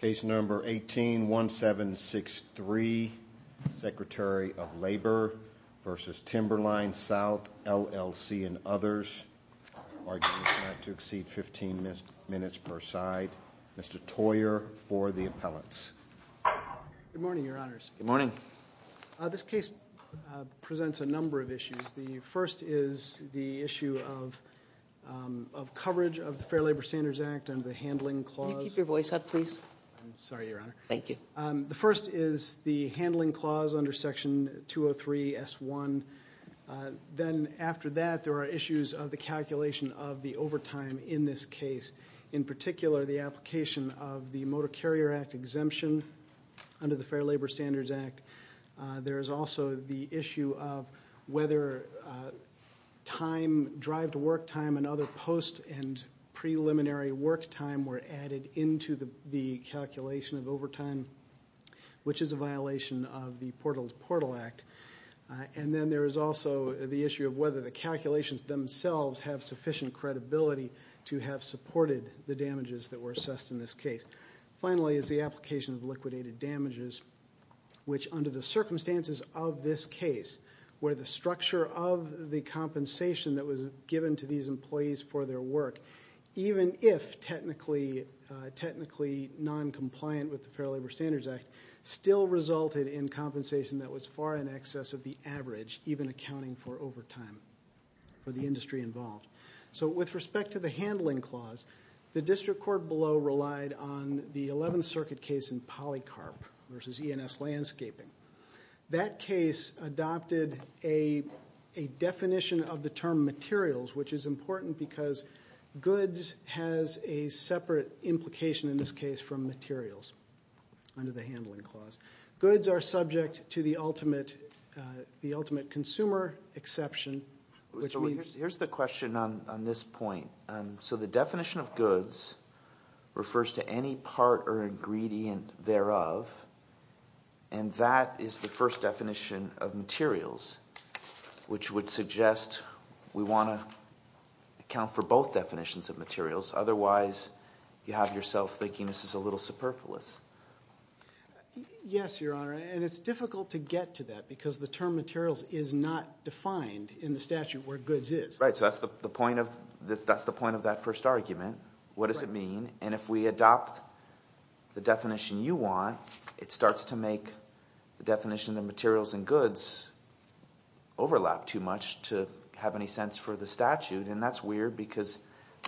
Case number 18-1763, Secretary of Labor v. Timberline South LLC and others. Arguments not to exceed 15 minutes per side. Mr. Toyer for the appellants. Good morning, Your Honors. Good morning. This case presents a number of issues. The first is the issue of coverage of the Fair Labor Standards Act under the Handling Clause. Can you keep your voice up, please? I'm sorry, Your Honor. Thank you. The first is the Handling Clause under Section 203-S1. Then after that, there are issues of the calculation of the overtime in this case, in particular the application of the Motor Carrier Act exemption under the Fair Labor Standards Act. There is also the issue of whether drive-to-work time and other post- and preliminary work time were added into the calculation of overtime, which is a violation of the Portal-to-Portal Act. Then there is also the issue of whether the calculations themselves have sufficient credibility to have supported the damages that were assessed in this case. Finally is the application of liquidated damages, which under the circumstances of this case, where the structure of the compensation that was given to these employees for their work, even if technically noncompliant with the Fair Labor Standards Act, still resulted in compensation that was far in excess of the average, even accounting for overtime for the industry involved. With respect to the Handling Clause, the District Court below relied on the 11th Circuit case in Polycarp versus E&S Landscaping. That case adopted a definition of the term materials, which is important because goods has a separate implication in this case from materials under the Handling Clause. Goods are subject to the ultimate consumer exception. Here's the question on this point. So the definition of goods refers to any part or ingredient thereof, and that is the first definition of materials, which would suggest we want to account for both definitions of materials. Otherwise, you have yourself thinking this is a little superfluous. Yes, Your Honor, and it's difficult to get to that because the term materials is not defined in the statute where goods is. Right, so that's the point of that first argument. What does it mean? And if we adopt the definition you want, it starts to make the definition of materials and goods overlap too much to have any sense for the statute, and that's weird because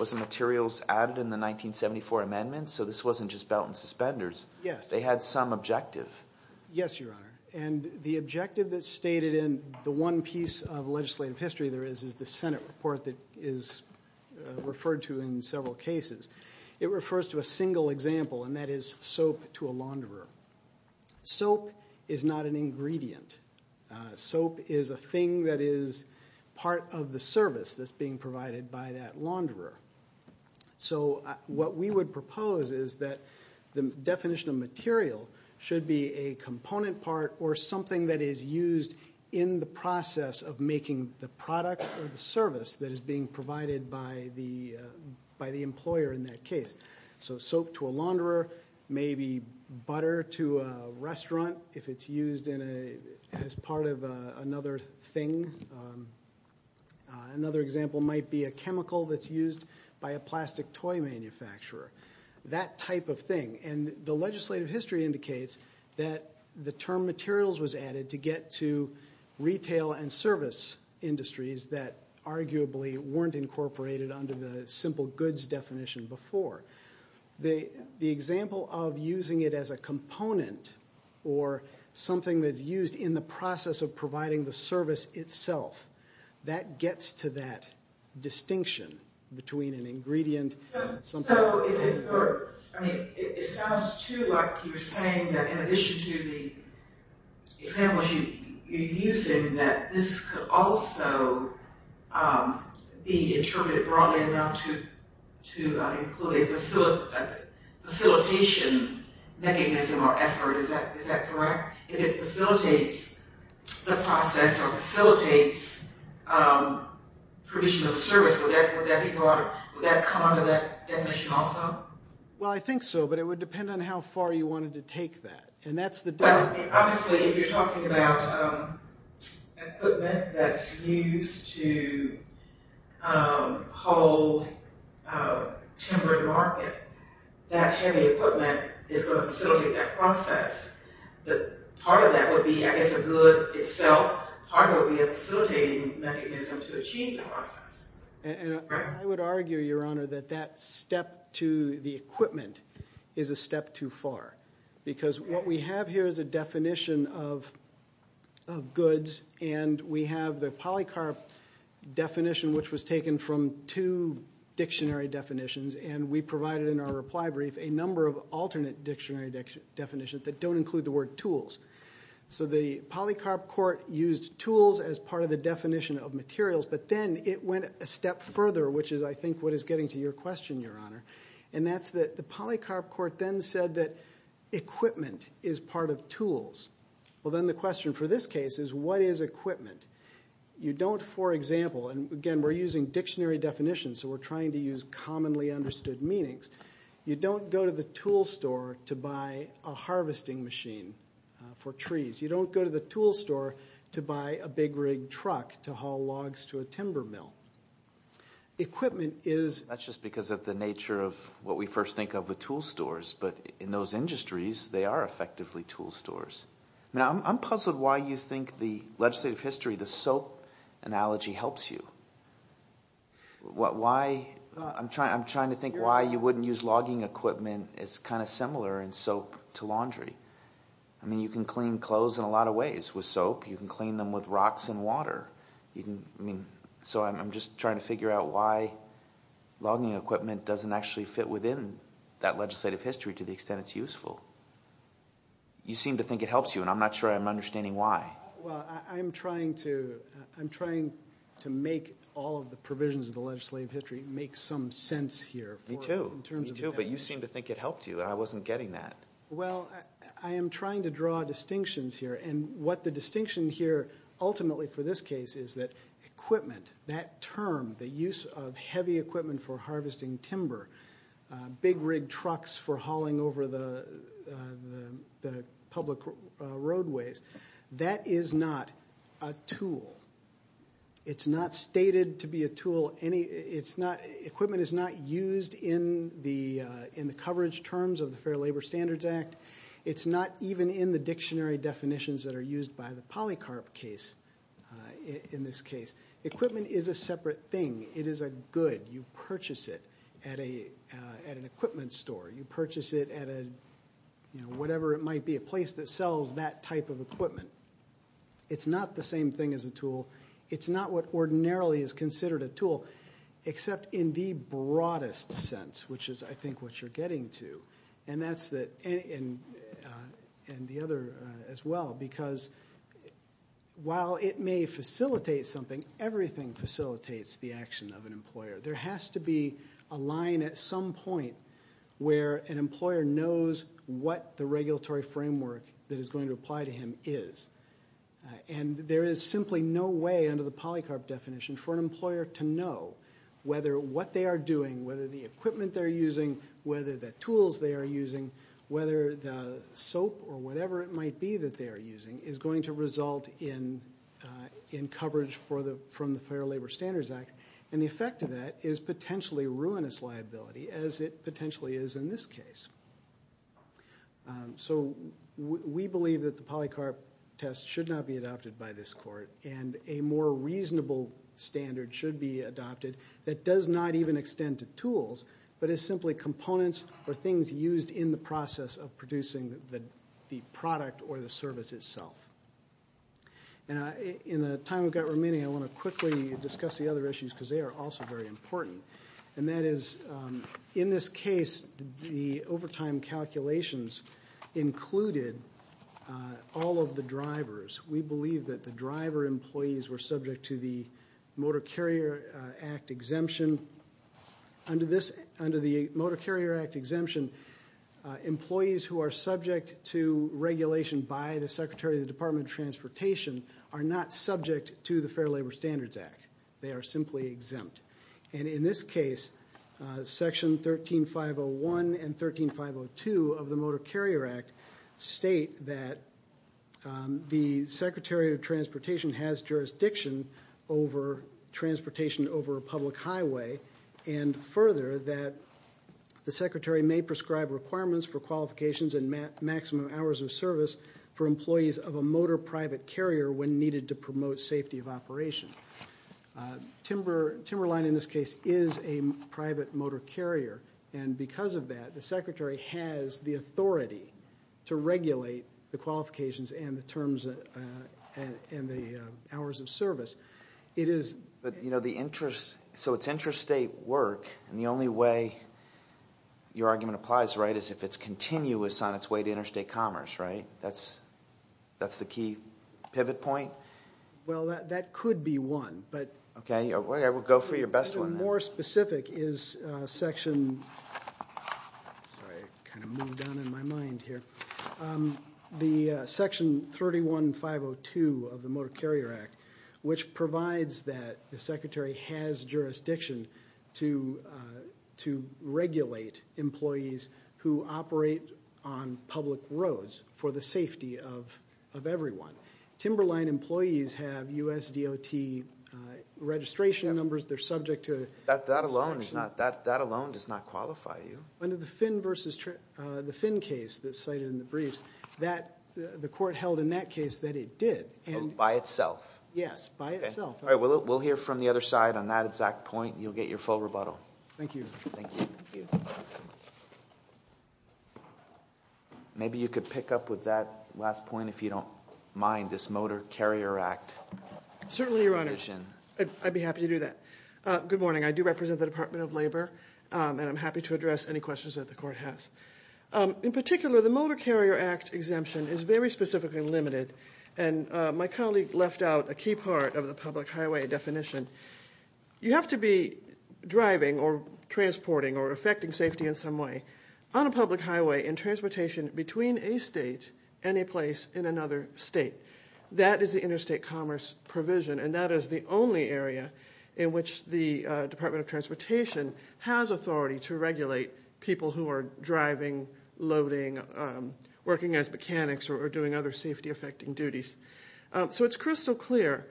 wasn't materials added in the 1974 amendments? So this wasn't just belt and suspenders. They had some objective. Yes, Your Honor. And the objective that's stated in the one piece of legislative history there is is the Senate report that is referred to in several cases. It refers to a single example, and that is soap to a launderer. Soap is not an ingredient. Soap is a thing that is part of the service that's being provided by that launderer. So what we would propose is that the definition of material should be a component part or something that is used in the process of making the product or the service that is being provided by the employer in that case. So soap to a launderer, maybe butter to a restaurant if it's used as part of another thing. Another example might be a chemical that's used by a plastic toy manufacturer, that type of thing. And the legislative history indicates that the term materials was added to get to retail and service industries that arguably weren't incorporated under the simple goods definition before. The example of using it as a component or something that's used in the process of providing the service itself, that gets to that distinction between an ingredient and something else. It sounds too like you're saying that in addition to the examples you're using, that this could also be interpreted broadly enough to include a facilitation mechanism or effort. Is that correct? If it facilitates the process or facilitates provision of service, would that come under that definition also? Well, I think so, but it would depend on how far you wanted to take that. Obviously, if you're talking about equipment that's used to hold timber to market, that heavy equipment is going to facilitate that process. Part of that would be, I guess, the good itself. Part of it would be a facilitating mechanism to achieve the process. I would argue, Your Honor, that that step to the equipment is a step too far because what we have here is a definition of goods, and we have the polycarp definition, which was taken from two dictionary definitions, and we provided in our reply brief a number of alternate dictionary definitions that don't include the word tools. So the polycarp court used tools as part of the definition of materials, but then it went a step further, which is, I think, what is getting to your question, Your Honor. And that's that the polycarp court then said that equipment is part of tools. Well, then the question for this case is, what is equipment? You don't, for example, and again, we're using dictionary definitions, so we're trying to use commonly understood meanings. You don't go to the tool store to buy a harvesting machine for trees. You don't go to the tool store to buy a big rig truck to haul logs to a timber mill. Equipment is. That's just because of the nature of what we first think of the tool stores, but in those industries, they are effectively tool stores. Now, I'm puzzled why you think the legislative history, the soap analogy helps you. Why? I'm trying to think why you wouldn't use logging equipment. It's kind of similar in soap to laundry. I mean, you can clean clothes in a lot of ways with soap. You can clean them with rocks and water. So I'm just trying to figure out why logging equipment doesn't actually fit within that legislative history to the extent it's useful. You seem to think it helps you, and I'm not sure I'm understanding why. Well, I'm trying to make all of the provisions of the legislative history make some sense here. Me too, me too, but you seem to think it helped you, and I wasn't getting that. Well, I am trying to draw distinctions here, and what the distinction here ultimately for this case is that equipment, that term, the use of heavy equipment for harvesting timber, big rig trucks for hauling over the public roadways, that is not a tool. It's not stated to be a tool. Equipment is not used in the coverage terms of the Fair Labor Standards Act. It's not even in the dictionary definitions that are used by the polycarp case in this case. Equipment is a separate thing. It is a good. You purchase it at an equipment store. You purchase it at whatever it might be, a place that sells that type of equipment. It's not the same thing as a tool. It's not what ordinarily is considered a tool except in the broadest sense, which is I think what you're getting to, and the other as well, because while it may facilitate something, everything facilitates the action of an employer. There has to be a line at some point where an employer knows what the regulatory framework that is going to apply to him is, and there is simply no way under the polycarp definition for an employer to know whether what they are doing, whether the equipment they're using, whether the tools they are using, whether the soap or whatever it might be that they are using is going to result in coverage from the Fair Labor Standards Act, and the effect of that is potentially ruinous liability, as it potentially is in this case. So we believe that the polycarp test should not be adopted by this court, and a more reasonable standard should be adopted that does not even extend to tools but is simply components or things used in the process of producing the product or the service itself. In the time we've got remaining, I want to quickly discuss the other issues because they are also very important, and that is in this case the overtime calculations included all of the drivers. We believe that the driver employees were subject to the Motor Carrier Act exemption. Under the Motor Carrier Act exemption, employees who are subject to regulation by the Secretary of the Department of Transportation are not subject to the Fair Labor Standards Act. They are simply exempt, and in this case, Section 13501 and 13502 of the Motor Carrier Act state that the Secretary of Transportation has jurisdiction over transportation over a public highway, and further that the Secretary may prescribe requirements for qualifications and maximum hours of service for employees of a motor private carrier when needed to promote safety of operation. Timberline, in this case, is a private motor carrier, and because of that, the Secretary has the authority to regulate the qualifications and the terms and the hours of service. So it's interstate work, and the only way your argument applies, right, is if it's continuous on its way to interstate commerce, right? That's the key pivot point? Well, that could be one, but- Okay, I will go for your best one. More specific is Section 31502 of the Motor Carrier Act, which provides that the Secretary has jurisdiction to regulate employees who operate on public roads for the safety of everyone. Timberline employees have USDOT registration numbers. They're subject to- That alone does not qualify you. Under the Finn case that's cited in the briefs, the court held in that case that it did. By itself? Yes, by itself. All right, we'll hear from the other side on that exact point. You'll get your full rebuttal. Thank you. Thank you. Thank you. Maybe you could pick up with that last point, if you don't mind, this Motor Carrier Act- Certainly, Your Honor. I'd be happy to do that. Good morning. I do represent the Department of Labor, and I'm happy to address any questions that the court has. In particular, the Motor Carrier Act exemption is very specifically limited, and my colleague left out a key part of the public highway definition. You have to be driving or transporting or affecting safety in some way on a public highway in transportation between a state and a place in another state. That is the interstate commerce provision, and that is the only area in which the Department of Transportation has authority to regulate people who are driving, loading, working as mechanics, or doing other safety-affecting duties. So it's crystal clear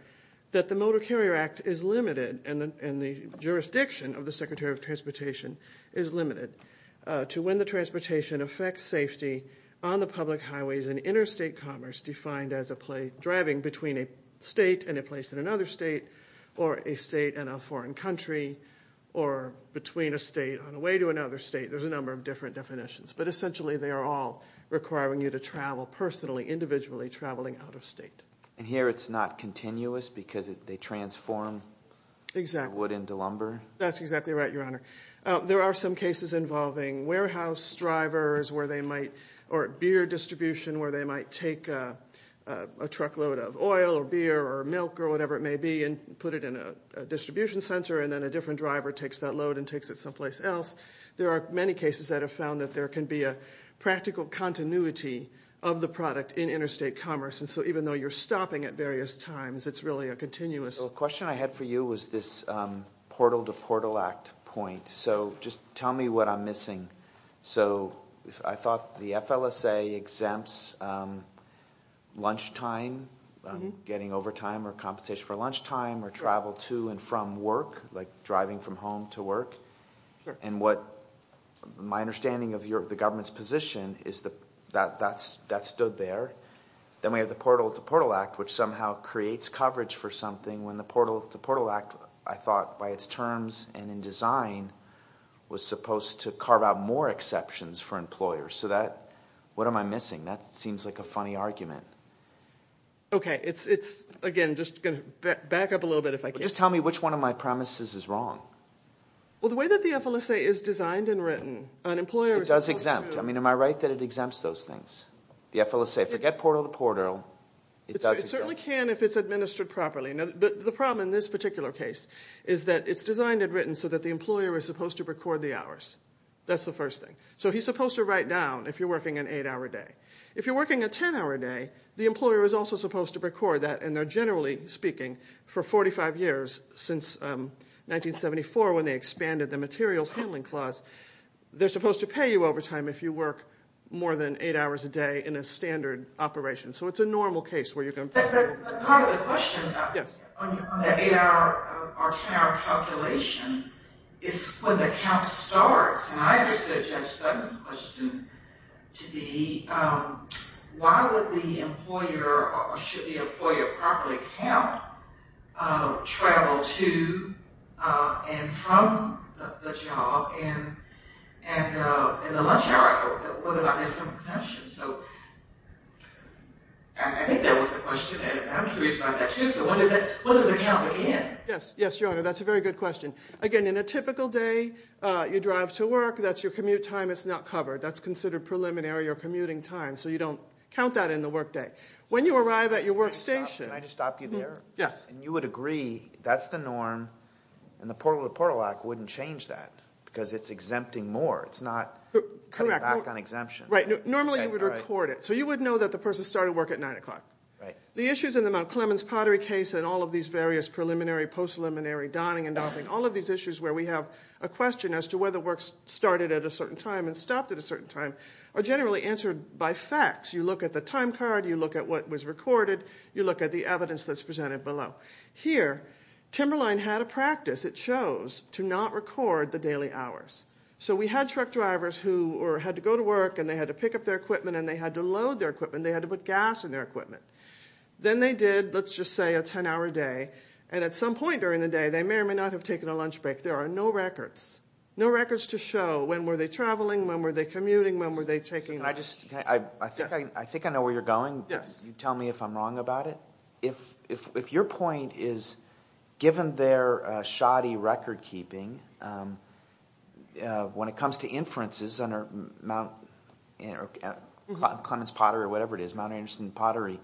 that the Motor Carrier Act is limited, and the jurisdiction of the Secretary of Transportation is limited, to when the transportation affects safety on the public highways in interstate commerce, defined as driving between a state and a place in another state, or a state and a foreign country, or between a state on the way to another state. There's a number of different definitions, but essentially they are all requiring you to travel personally, individually, traveling out of state. And here it's not continuous because they transform the wood into lumber? Exactly. That's exactly right, Your Honor. There are some cases involving warehouse drivers or beer distribution where they might take a truckload of oil or beer or milk or whatever it may be and put it in a distribution center, and then a different driver takes that load and takes it someplace else. There are many cases that have found that there can be a practical continuity of the product in interstate commerce. And so even though you're stopping at various times, it's really a continuous... The question I had for you was this Portal to Portal Act point. So just tell me what I'm missing. So I thought the FLSA exempts lunchtime, getting overtime or compensation for lunchtime, or travel to and from work, like driving from home to work. Sure. And what my understanding of the government's position is that that stood there. Then we have the Portal to Portal Act, which somehow creates coverage for something when the Portal to Portal Act, I thought by its terms and in design, was supposed to carve out more exceptions for employers. So what am I missing? That seems like a funny argument. Okay. Again, just going to back up a little bit if I can. Just tell me which one of my premises is wrong. Well, the way that the FLSA is designed and written, an employer is supposed to... It does exempt. I mean, am I right that it exempts those things? The FLSA, forget Portal to Portal, it does exempt. It certainly can if it's administered properly. But the problem in this particular case is that it's designed and written so that the employer is supposed to record the hours. That's the first thing. So he's supposed to write down if you're working an 8-hour day. If you're working a 10-hour day, the employer is also supposed to record that, and they're generally speaking, for 45 years since 1974 when they expanded the Materials Handling Clause. They're supposed to pay you overtime if you work more than 8 hours a day in a standard operation. So it's a normal case where you're going to... But part of the question on the 8-hour or 10-hour calculation is when the count starts. And I understood Judge Sutton's question to be why would the employer, or should the employer, properly count travel to and from the job and in the lunch hour? What if I missed someone's session? I think that was the question, and I'm curious about that, too. So what does it count again? Yes, Your Honor, that's a very good question. Again, in a typical day, you drive to work, that's your commute time. It's not covered. That's considered preliminary or commuting time, so you don't count that in the workday. When you arrive at your workstation... Can I just stop you there? Yes. And you would agree that's the norm, and the Portal to Portal Act wouldn't change that because it's exempting more. It's not cutting back on exemption. Right. Normally you would record it. So you would know that the person started work at 9 o'clock. The issues in the Mount Clemens pottery case and all of these various preliminary, post-preliminary, donning and doffing, all of these issues where we have a question as to whether work started at a certain time and stopped at a certain time are generally answered by facts. You look at the time card, you look at what was recorded, you look at the evidence that's presented below. Here, Timberline had a practice, it shows, to not record the daily hours. So we had truck drivers who had to go to work and they had to pick up their equipment and they had to load their equipment, they had to put gas in their equipment. Then they did, let's just say, a 10-hour day, and at some point during the day, they may or may not have taken a lunch break. There are no records. No records to show. When were they traveling, when were they commuting, when were they taking a lunch break. I think I know where you're going. You tell me if I'm wrong about it. If your point is, given their shoddy record-keeping, when it comes to inferences under Mount Clemens pottery or whatever it is, Mount Anderson pottery,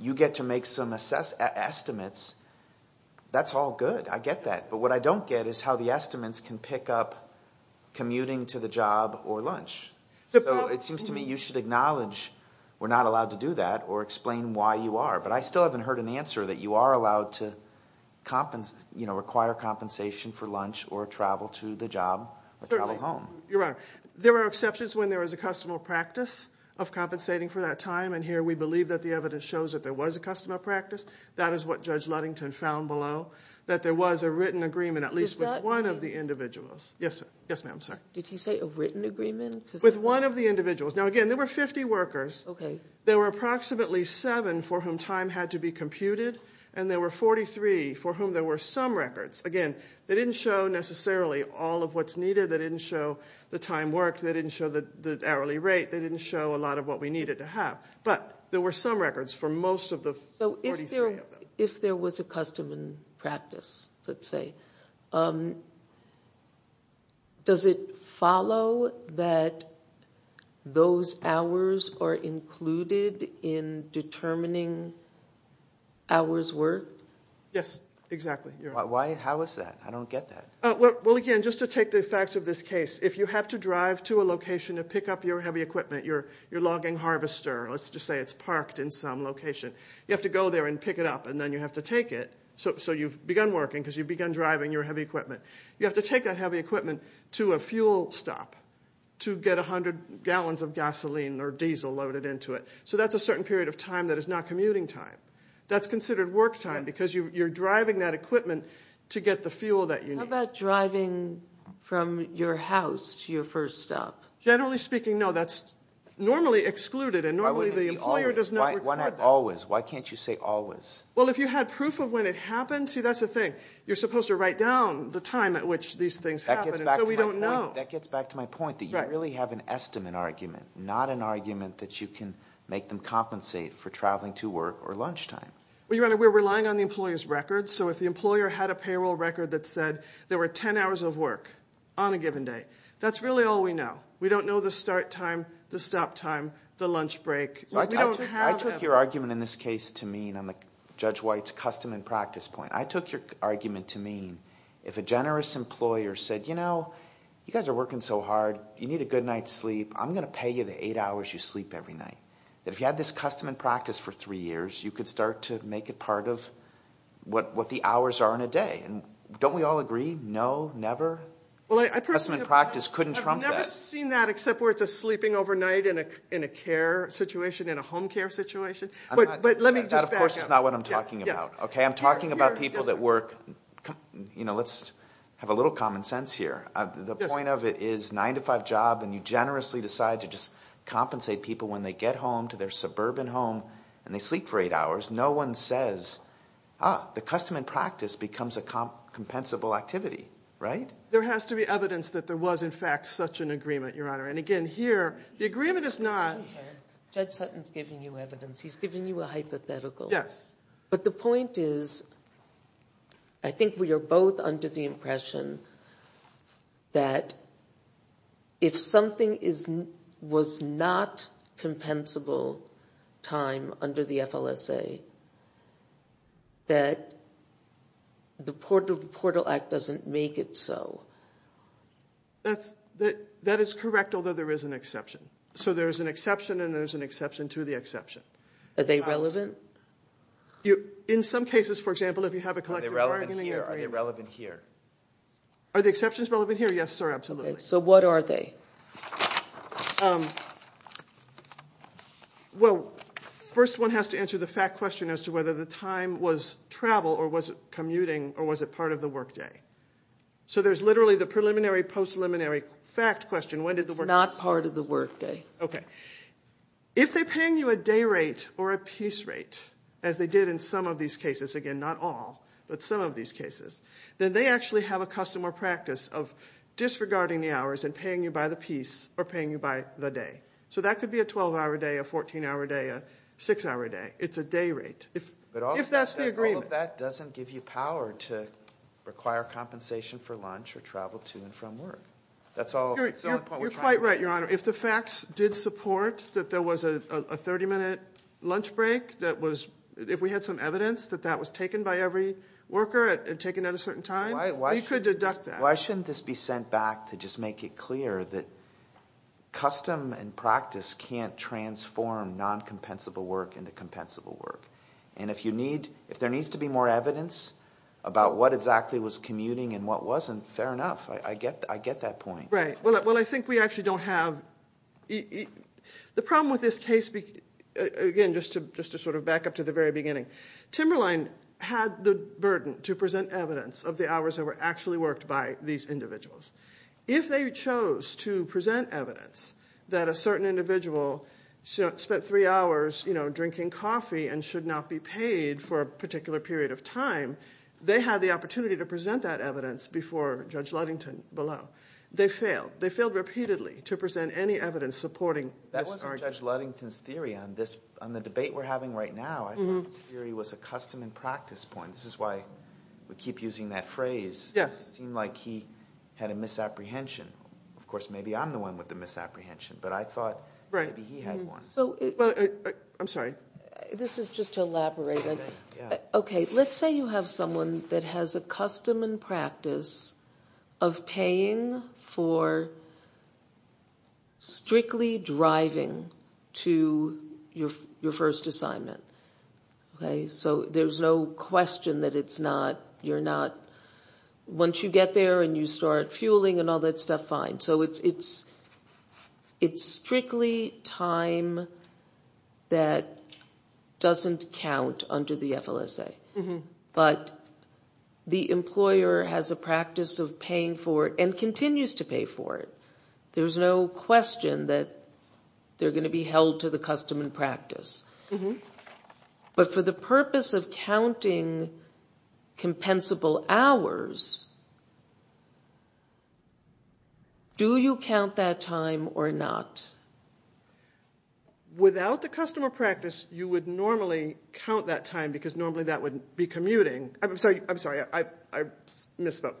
you get to make some estimates. That's all good, I get that. But what I don't get is how the estimates can pick up commuting to the job or lunch. So it seems to me you should acknowledge we're not allowed to do that or explain why you are. But I still haven't heard an answer that you are allowed to require compensation for lunch or travel to the job or travel home. Your Honor, there are exceptions when there is a customary practice of compensating for that time, and here we believe that the evidence shows that there was a customary practice. That is what Judge Ludington found below, that there was a written agreement, at least with one of the individuals. Yes, ma'am, sorry. Did he say a written agreement? With one of the individuals. Now again, there were 50 workers. There were approximately seven for whom time had to be computed, and there were 43 for whom there were some records. Again, they didn't show necessarily all of what's needed. They didn't show the time worked. They didn't show the hourly rate. They didn't show a lot of what we needed to have. But there were some records for most of the 43 of them. If there was a customary practice, let's say, does it follow that those hours are included in determining hours worked? Yes, exactly. How is that? I don't get that. Well, again, just to take the facts of this case, if you have to drive to a location to pick up your heavy equipment, your logging harvester, let's just say it's parked in some location, you have to go there and pick it up, and then you have to take it. So you've begun working because you've begun driving your heavy equipment. You have to take that heavy equipment to a fuel stop to get 100 gallons of gasoline or diesel loaded into it. So that's a certain period of time that is not commuting time. That's considered work time because you're driving that equipment to get the fuel that you need. How about driving from your house to your first stop? Generally speaking, no. That's normally excluded, and normally the employer does not record that. Why not always? Why can't you say always? Well, if you had proof of when it happened, see, that's the thing. You're supposed to write down the time at which these things happened, and so we don't know. That gets back to my point, that you really have an estimate argument, not an argument that you can make them compensate for traveling to work or lunchtime. We're relying on the employer's record, so if the employer had a payroll record that said there were 10 hours of work on a given day, that's really all we know. We don't know the start time, the stop time, the lunch break. I took your argument in this case to mean, on Judge White's custom and practice point, I took your argument to mean if a generous employer said, you know, you guys are working so hard, you need a good night's sleep, I'm going to pay you the 8 hours you sleep every night. If you had this custom and practice for 3 years, you could start to make it part of what the hours are in a day. Don't we all agree, no, never? Custom and practice couldn't trump that. I've never seen that except where it's a sleeping overnight in a care situation, in a home care situation. But let me just back up. That, of course, is not what I'm talking about. I'm talking about people that work... You know, let's have a little common sense here. The point of it is 9-to-5 job, and you generously decide to just compensate people when they get home to their suburban home and they sleep for 8 hours. No one says, ah, the custom and practice becomes a compensable activity, right? There has to be evidence that there was, in fact, such an agreement, Your Honor. And again, here, the agreement is not... Judge Sutton's giving you evidence. He's giving you a hypothetical. Yes. But the point is, I think we are both under the impression that if something was not compensable time under the FLSA, that the Portal Act doesn't make it so. That is correct, although there is an exception. So there is an exception, and there is an exception to the exception. Are they relevant? In some cases, for example, if you have a collective bargaining agreement... Are they relevant here? Are the exceptions relevant here? Yes, sir, absolutely. So what are they? Well, first one has to answer the fact question as to whether the time was travel or was it commuting or was it part of the workday. So there's literally the preliminary, post-preliminary fact question. When did the workday... It's not part of the workday. Okay. If they're paying you a day rate or a piece rate, as they did in some of these cases, again, not all, but some of these cases, then they actually have a custom or practice of disregarding the hours and paying you by the piece or paying you by the day. So that could be a 12-hour day, a 14-hour day, a 6-hour day. It's a day rate if that's the agreement. But all of that doesn't give you power to require compensation for lunch or travel to and from work. You're quite right, Your Honor. If the facts did support that there was a 30-minute lunch break, if we had some evidence that that was taken by every worker and taken at a certain time, we could deduct that. Why shouldn't this be sent back to just make it clear that custom and practice can't transform non-compensable work into compensable work? And if there needs to be more evidence about what exactly was commuting and what wasn't, fair enough. I get that point. Right. Well, I think we actually don't have... The problem with this case, again, just to sort of back up to the very beginning, Timberline had the burden to present evidence of the hours that were actually worked by these individuals. If they chose to present evidence that a certain individual spent 3 hours drinking coffee and should not be paid for a particular period of time, they had the opportunity to present that evidence before Judge Luddington below. They failed. They failed repeatedly to present any evidence supporting... That wasn't Judge Luddington's theory. On the debate we're having right now, I thought his theory was a custom and practice point. This is why we keep using that phrase. It seemed like he had a misapprehension. Of course, maybe I'm the one with the misapprehension, but I thought maybe he had one. I'm sorry. This is just to elaborate. Okay, let's say you have someone that has a custom and practice of paying for strictly driving to your first assignment. So there's no question that you're not... Once you get there and you start fueling and all that stuff, fine. So it's strictly time that doesn't count under the FLSA. But the employer has a practice of paying for it and continues to pay for it. There's no question that they're going to be held to the custom and practice. But for the purpose of counting compensable hours, do you count that time or not? Without the custom or practice, you would normally count that time because normally that would be commuting. I'm sorry, I misspoke.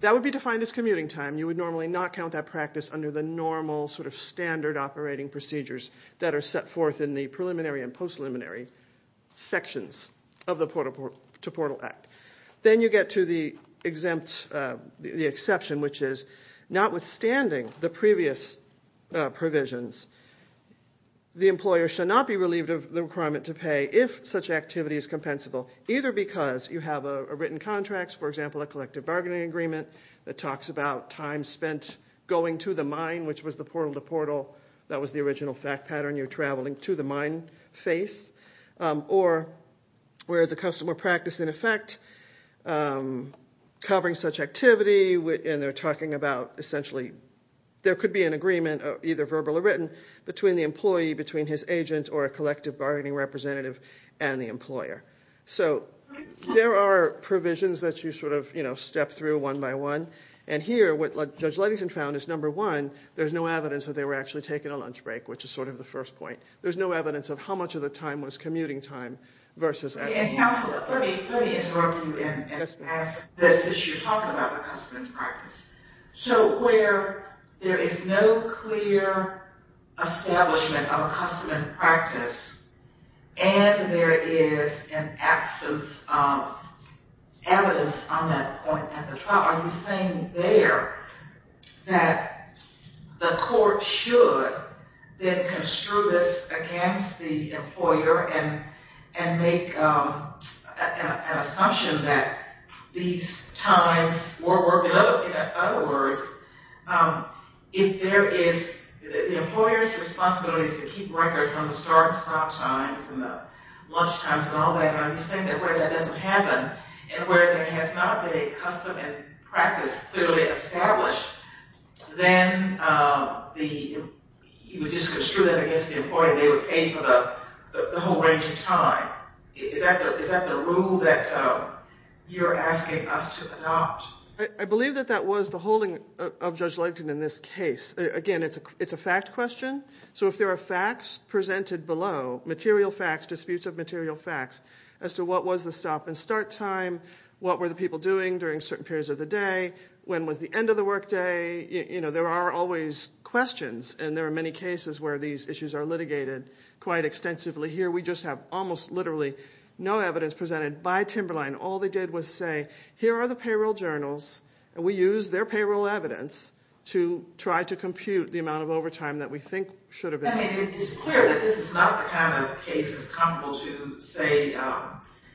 That would be defined as commuting time. You would normally not count that practice under the normal sort of standard operating procedures that are set forth in the preliminary and post-preliminary sections of the Portal-to-Portal Act. Then you get to the exception, which is notwithstanding the previous provisions, the employer shall not be relieved of the requirement to pay if such activity is compensable, either because you have written contracts, for example, a collective bargaining agreement that talks about time spent going to the mine, which was the Portal-to-Portal. That was the original fact pattern. You're traveling to the mine face. Or where the custom or practice, in effect, covering such activity, and they're talking about essentially there could be an agreement, either verbal or written, between the employee, between his agent or a collective bargaining representative and the employer. So there are provisions that you sort of step through one by one. And here, what Judge Ludington found is, number one, there's no evidence that they were actually taking a lunch break, which is sort of the first point. There's no evidence of how much of the time was commuting time versus actual time. And, Counselor, let me interrupt you and ask this as you talk about the custom and practice. So where there is no clear establishment of a custom and practice and there is an absence of evidence on that point at the trial, are you saying there that the court should then construe this against the employer and make an assumption that these times were working? In other words, if there is the employer's responsibility to keep records on the start and stop times and the lunch times and all that, are you saying that where that doesn't happen and where there has not been a custom and practice clearly established, then you would just construe that against the employer and they would pay for the whole range of time? Is that the rule that you're asking us to adopt? I believe that that was the holding of Judge Ludington in this case. Again, it's a fact question. So if there are facts presented below, material facts, disputes of material facts, as to what was the stop and start time, what were the people doing during certain periods of the day, when was the end of the work day, there are always questions and there are many cases where these issues are litigated quite extensively. Here we just have almost literally no evidence presented by Timberline. All they did was say, here are the payroll journals and we used their payroll evidence to try to compute the amount of overtime that we think should have been made. It's clear that this is not the kind of cases comparable to, say,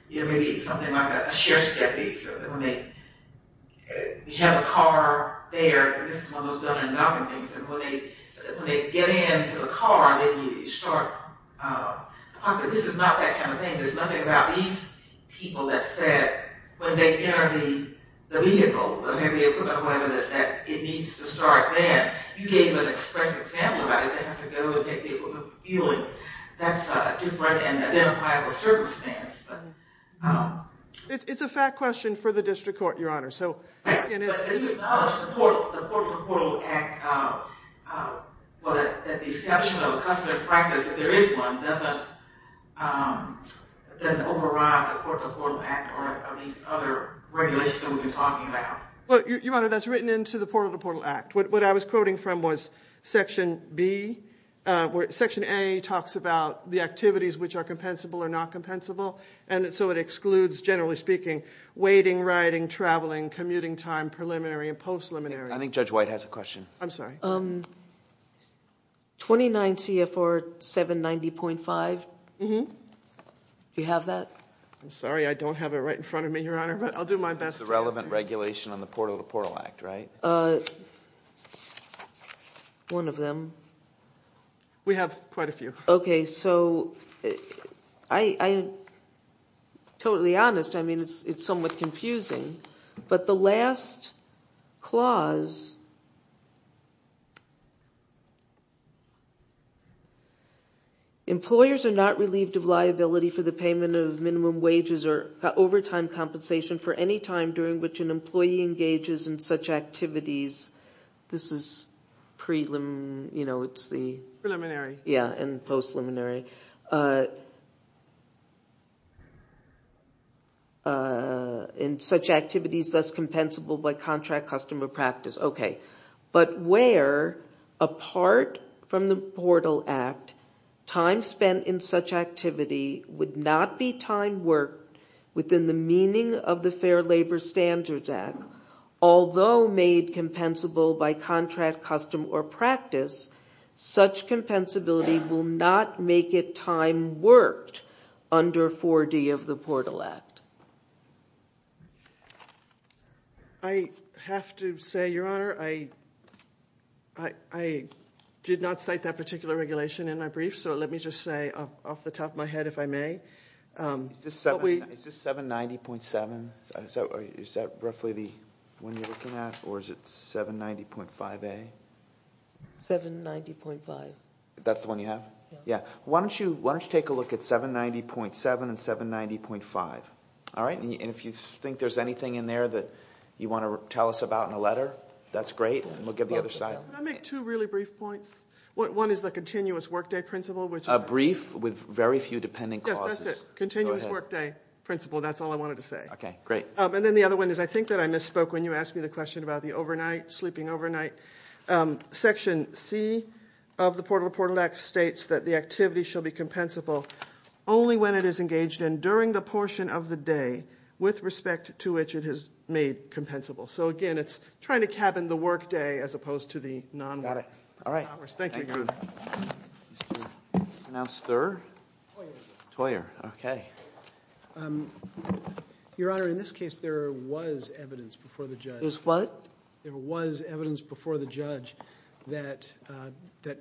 maybe something like a sheriff's deputy. When they have a car there, this is one of those done-and-done things. When they get into the car, they need to start. This is not that kind of thing. There's nothing about these people that said, when they enter the vehicle, the heavy equipment or whatever, that it needs to start then. You can't even express an example about it. They have to go and take the equipment and fuel it. That's a different and identifiable circumstance. It's a fact question for the district court, Your Honor. If you acknowledge the Portal to Portal Act, that the exception of a customary practice, if there is one, doesn't override the Portal to Portal Act or any of these other regulations that we've been talking about. Your Honor, that's written into the Portal to Portal Act. What I was quoting from was Section A talks about the activities which are compensable or not compensable, and so it excludes, generally speaking, waiting, riding, traveling, commuting time, preliminary and post-preliminary. I think Judge White has a question. I'm sorry. 29 CFR 790.5, do you have that? It's the relevant regulation on the Portal to Portal Act, right? One of them. We have quite a few. Okay, so I'm totally honest. I mean, it's somewhat confusing. But the last clause, employers are not relieved of liability for the payment of minimum wages or overtime compensation for any time during which an employee engages in such activities. This is preliminary. Yeah, and post-preliminary. In such activities, thus compensable by contract customary practice. Okay. But where, apart from the Portal Act, time spent in such activity would not be time worked within the meaning of the Fair Labor Standards Act, although made compensable by contract custom or practice, such compensability will not make it time worked under 4D of the Portal Act. I have to say, Your Honor, I did not cite that particular regulation in my brief, so let me just say off the top of my head, if I may. Is this 790.7? Is that roughly the one you're looking at, or is it 790.5A? 790.5. That's the one you have? Yeah. Why don't you take a look at 790.7 and 790.5, all right? And if you think there's anything in there that you want to tell us about in a letter, that's great. And we'll give the other side. Can I make two really brief points? One is the continuous workday principle, which is a brief with very few dependent causes. Yes, that's it. Continuous workday principle, that's all I wanted to say. Okay, great. And then the other one is I think that I misspoke when you asked me the question about the overnight, sleeping overnight. Section C of the Portal to Portal Act states that the activity shall be compensable only when it is engaged in during the portion of the day with respect to which it is made compensable. So, again, it's trying to cabin the workday as opposed to the non-work hours. Got it. All right. Thank you. Thank you. Announce third. Toyer. Toyer, okay. Your Honor, in this case, there was evidence before the judge. There was what? There was evidence before the judge that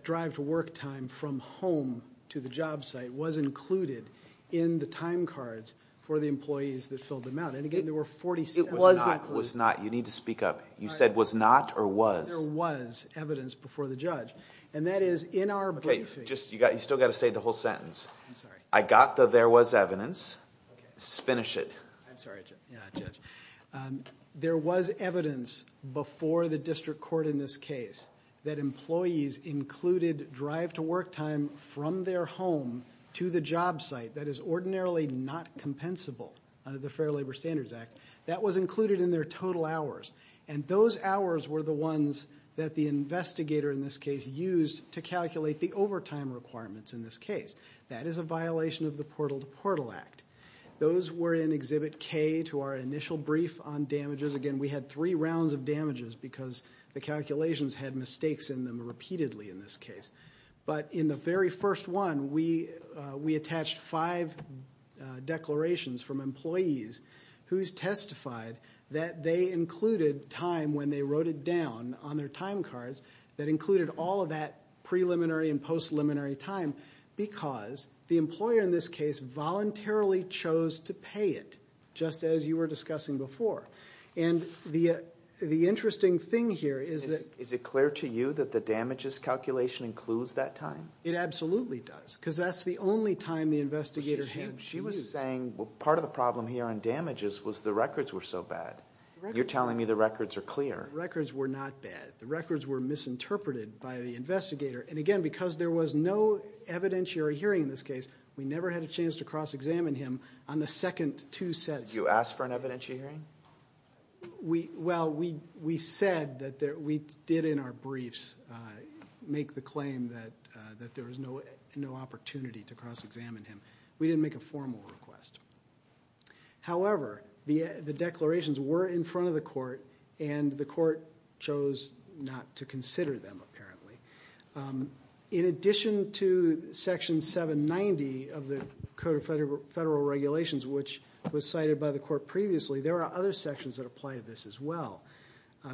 drive to work time from home to the job site was included in the time cards for the employees that filled them out. And, again, there were 47. It was included. It was not. It was not. You need to speak up. You said was not or was. There was evidence before the judge, and that is in our brief. Okay, you still got to say the whole sentence. I'm sorry. I got the there was evidence. Okay. Finish it. I'm sorry, Judge. Yeah, Judge. There was evidence before the district court in this case that employees included drive to work time from their home to the job site that is ordinarily not compensable under the Fair Labor Standards Act. That was included in their total hours. And those hours were the ones that the investigator in this case used to calculate the overtime requirements in this case. That is a violation of the Portal to Portal Act. Those were in Exhibit K to our initial brief on damages. Again, we had three rounds of damages because the calculations had mistakes in them repeatedly in this case. But in the very first one, we attached five declarations from employees who testified that they included time when they wrote it down on their time cards that included all of that preliminary and post-preliminary time because the employer in this case voluntarily chose to pay it, just as you were discussing before. And the interesting thing here is that... Is it clear to you that the damages calculation includes that time? It absolutely does because that's the only time the investigator used. She was saying part of the problem here on damages was the records were so bad. You're telling me the records are clear. The records were not bad. The records were misinterpreted by the investigator. And again, because there was no evidentiary hearing in this case, we never had a chance to cross-examine him on the second two sets. You asked for an evidentiary hearing? Well, we said that we did in our briefs make the claim that there was no opportunity to cross-examine him. We didn't make a formal request. However, the declarations were in front of the court, and the court chose not to consider them apparently. In addition to Section 790 of the Code of Federal Regulations, which was cited by the court previously, there are other sections that apply to this as well.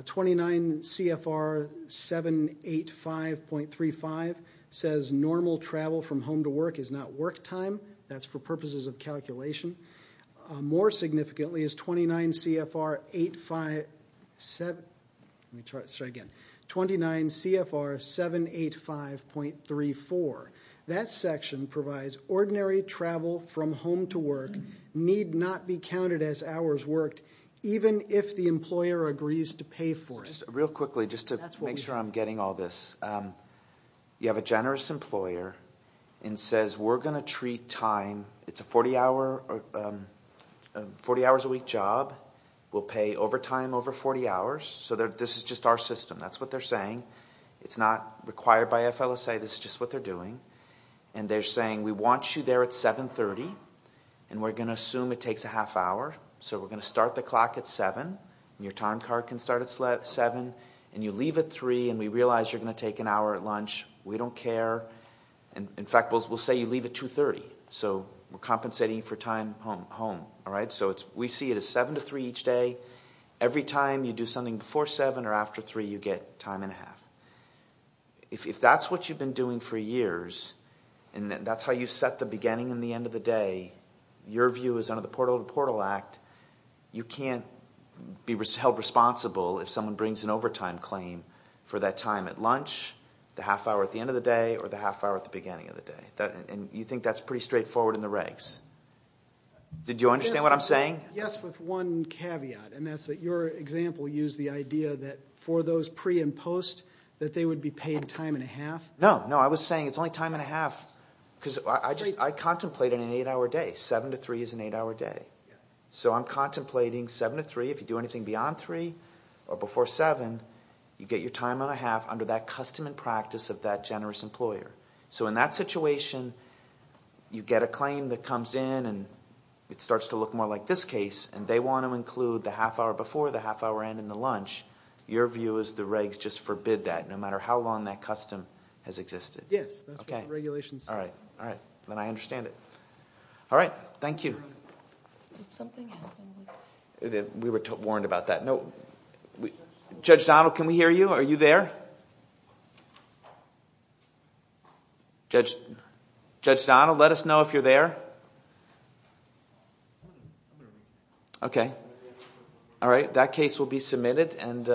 29 CFR 785.35 says normal travel from home to work is not work time. That's for purposes of calculation. More significantly is 29 CFR 785.34. That section provides ordinary travel from home to work need not be counted as hours worked, even if the employer agrees to pay for it. Real quickly, just to make sure I'm getting all this. You have a generous employer and says we're going to treat time. It's a 40 hours a week job. We'll pay overtime over 40 hours. So this is just our system. That's what they're saying. It's not required by FLSA. This is just what they're doing. And they're saying we want you there at 730, and we're going to assume it takes a half hour. So we're going to start the clock at 7. Your time card can start at 7, and you leave at 3, and we realize you're going to take an hour at lunch. We don't care. In fact, we'll say you leave at 230. So we're compensating for time home. So we see it as 7 to 3 each day. Every time you do something before 7 or after 3, you get time and a half. If that's what you've been doing for years, and that's how you set the beginning and the end of the day, your view is under the Portal to Portal Act. You can't be held responsible if someone brings an overtime claim for that time at lunch, the half hour at the end of the day, or the half hour at the beginning of the day. And you think that's pretty straightforward in the regs. Did you understand what I'm saying? Yes, with one caveat, and that's that your example used the idea that for those pre and post, that they would be paid time and a half. No, no. I was saying it's only time and a half because I contemplate it in an 8-hour day. 7 to 3 is an 8-hour day. So I'm contemplating 7 to 3. If you do anything beyond 3 or before 7, you get your time and a half under that custom and practice of that generous employer. So in that situation, you get a claim that comes in, and it starts to look more like this case, and they want to include the half hour before, the half hour end, and the lunch. Your view is the regs just forbid that no matter how long that custom has existed. Yes, that's what the regulations say. All right. All right. Then I understand it. All right. Thank you. Did something happen? We were warned about that. Judge Donald, can we hear you? Are you there? Judge Donald, let us know if you're there. Okay. All right. That case will be submitted, and thank you.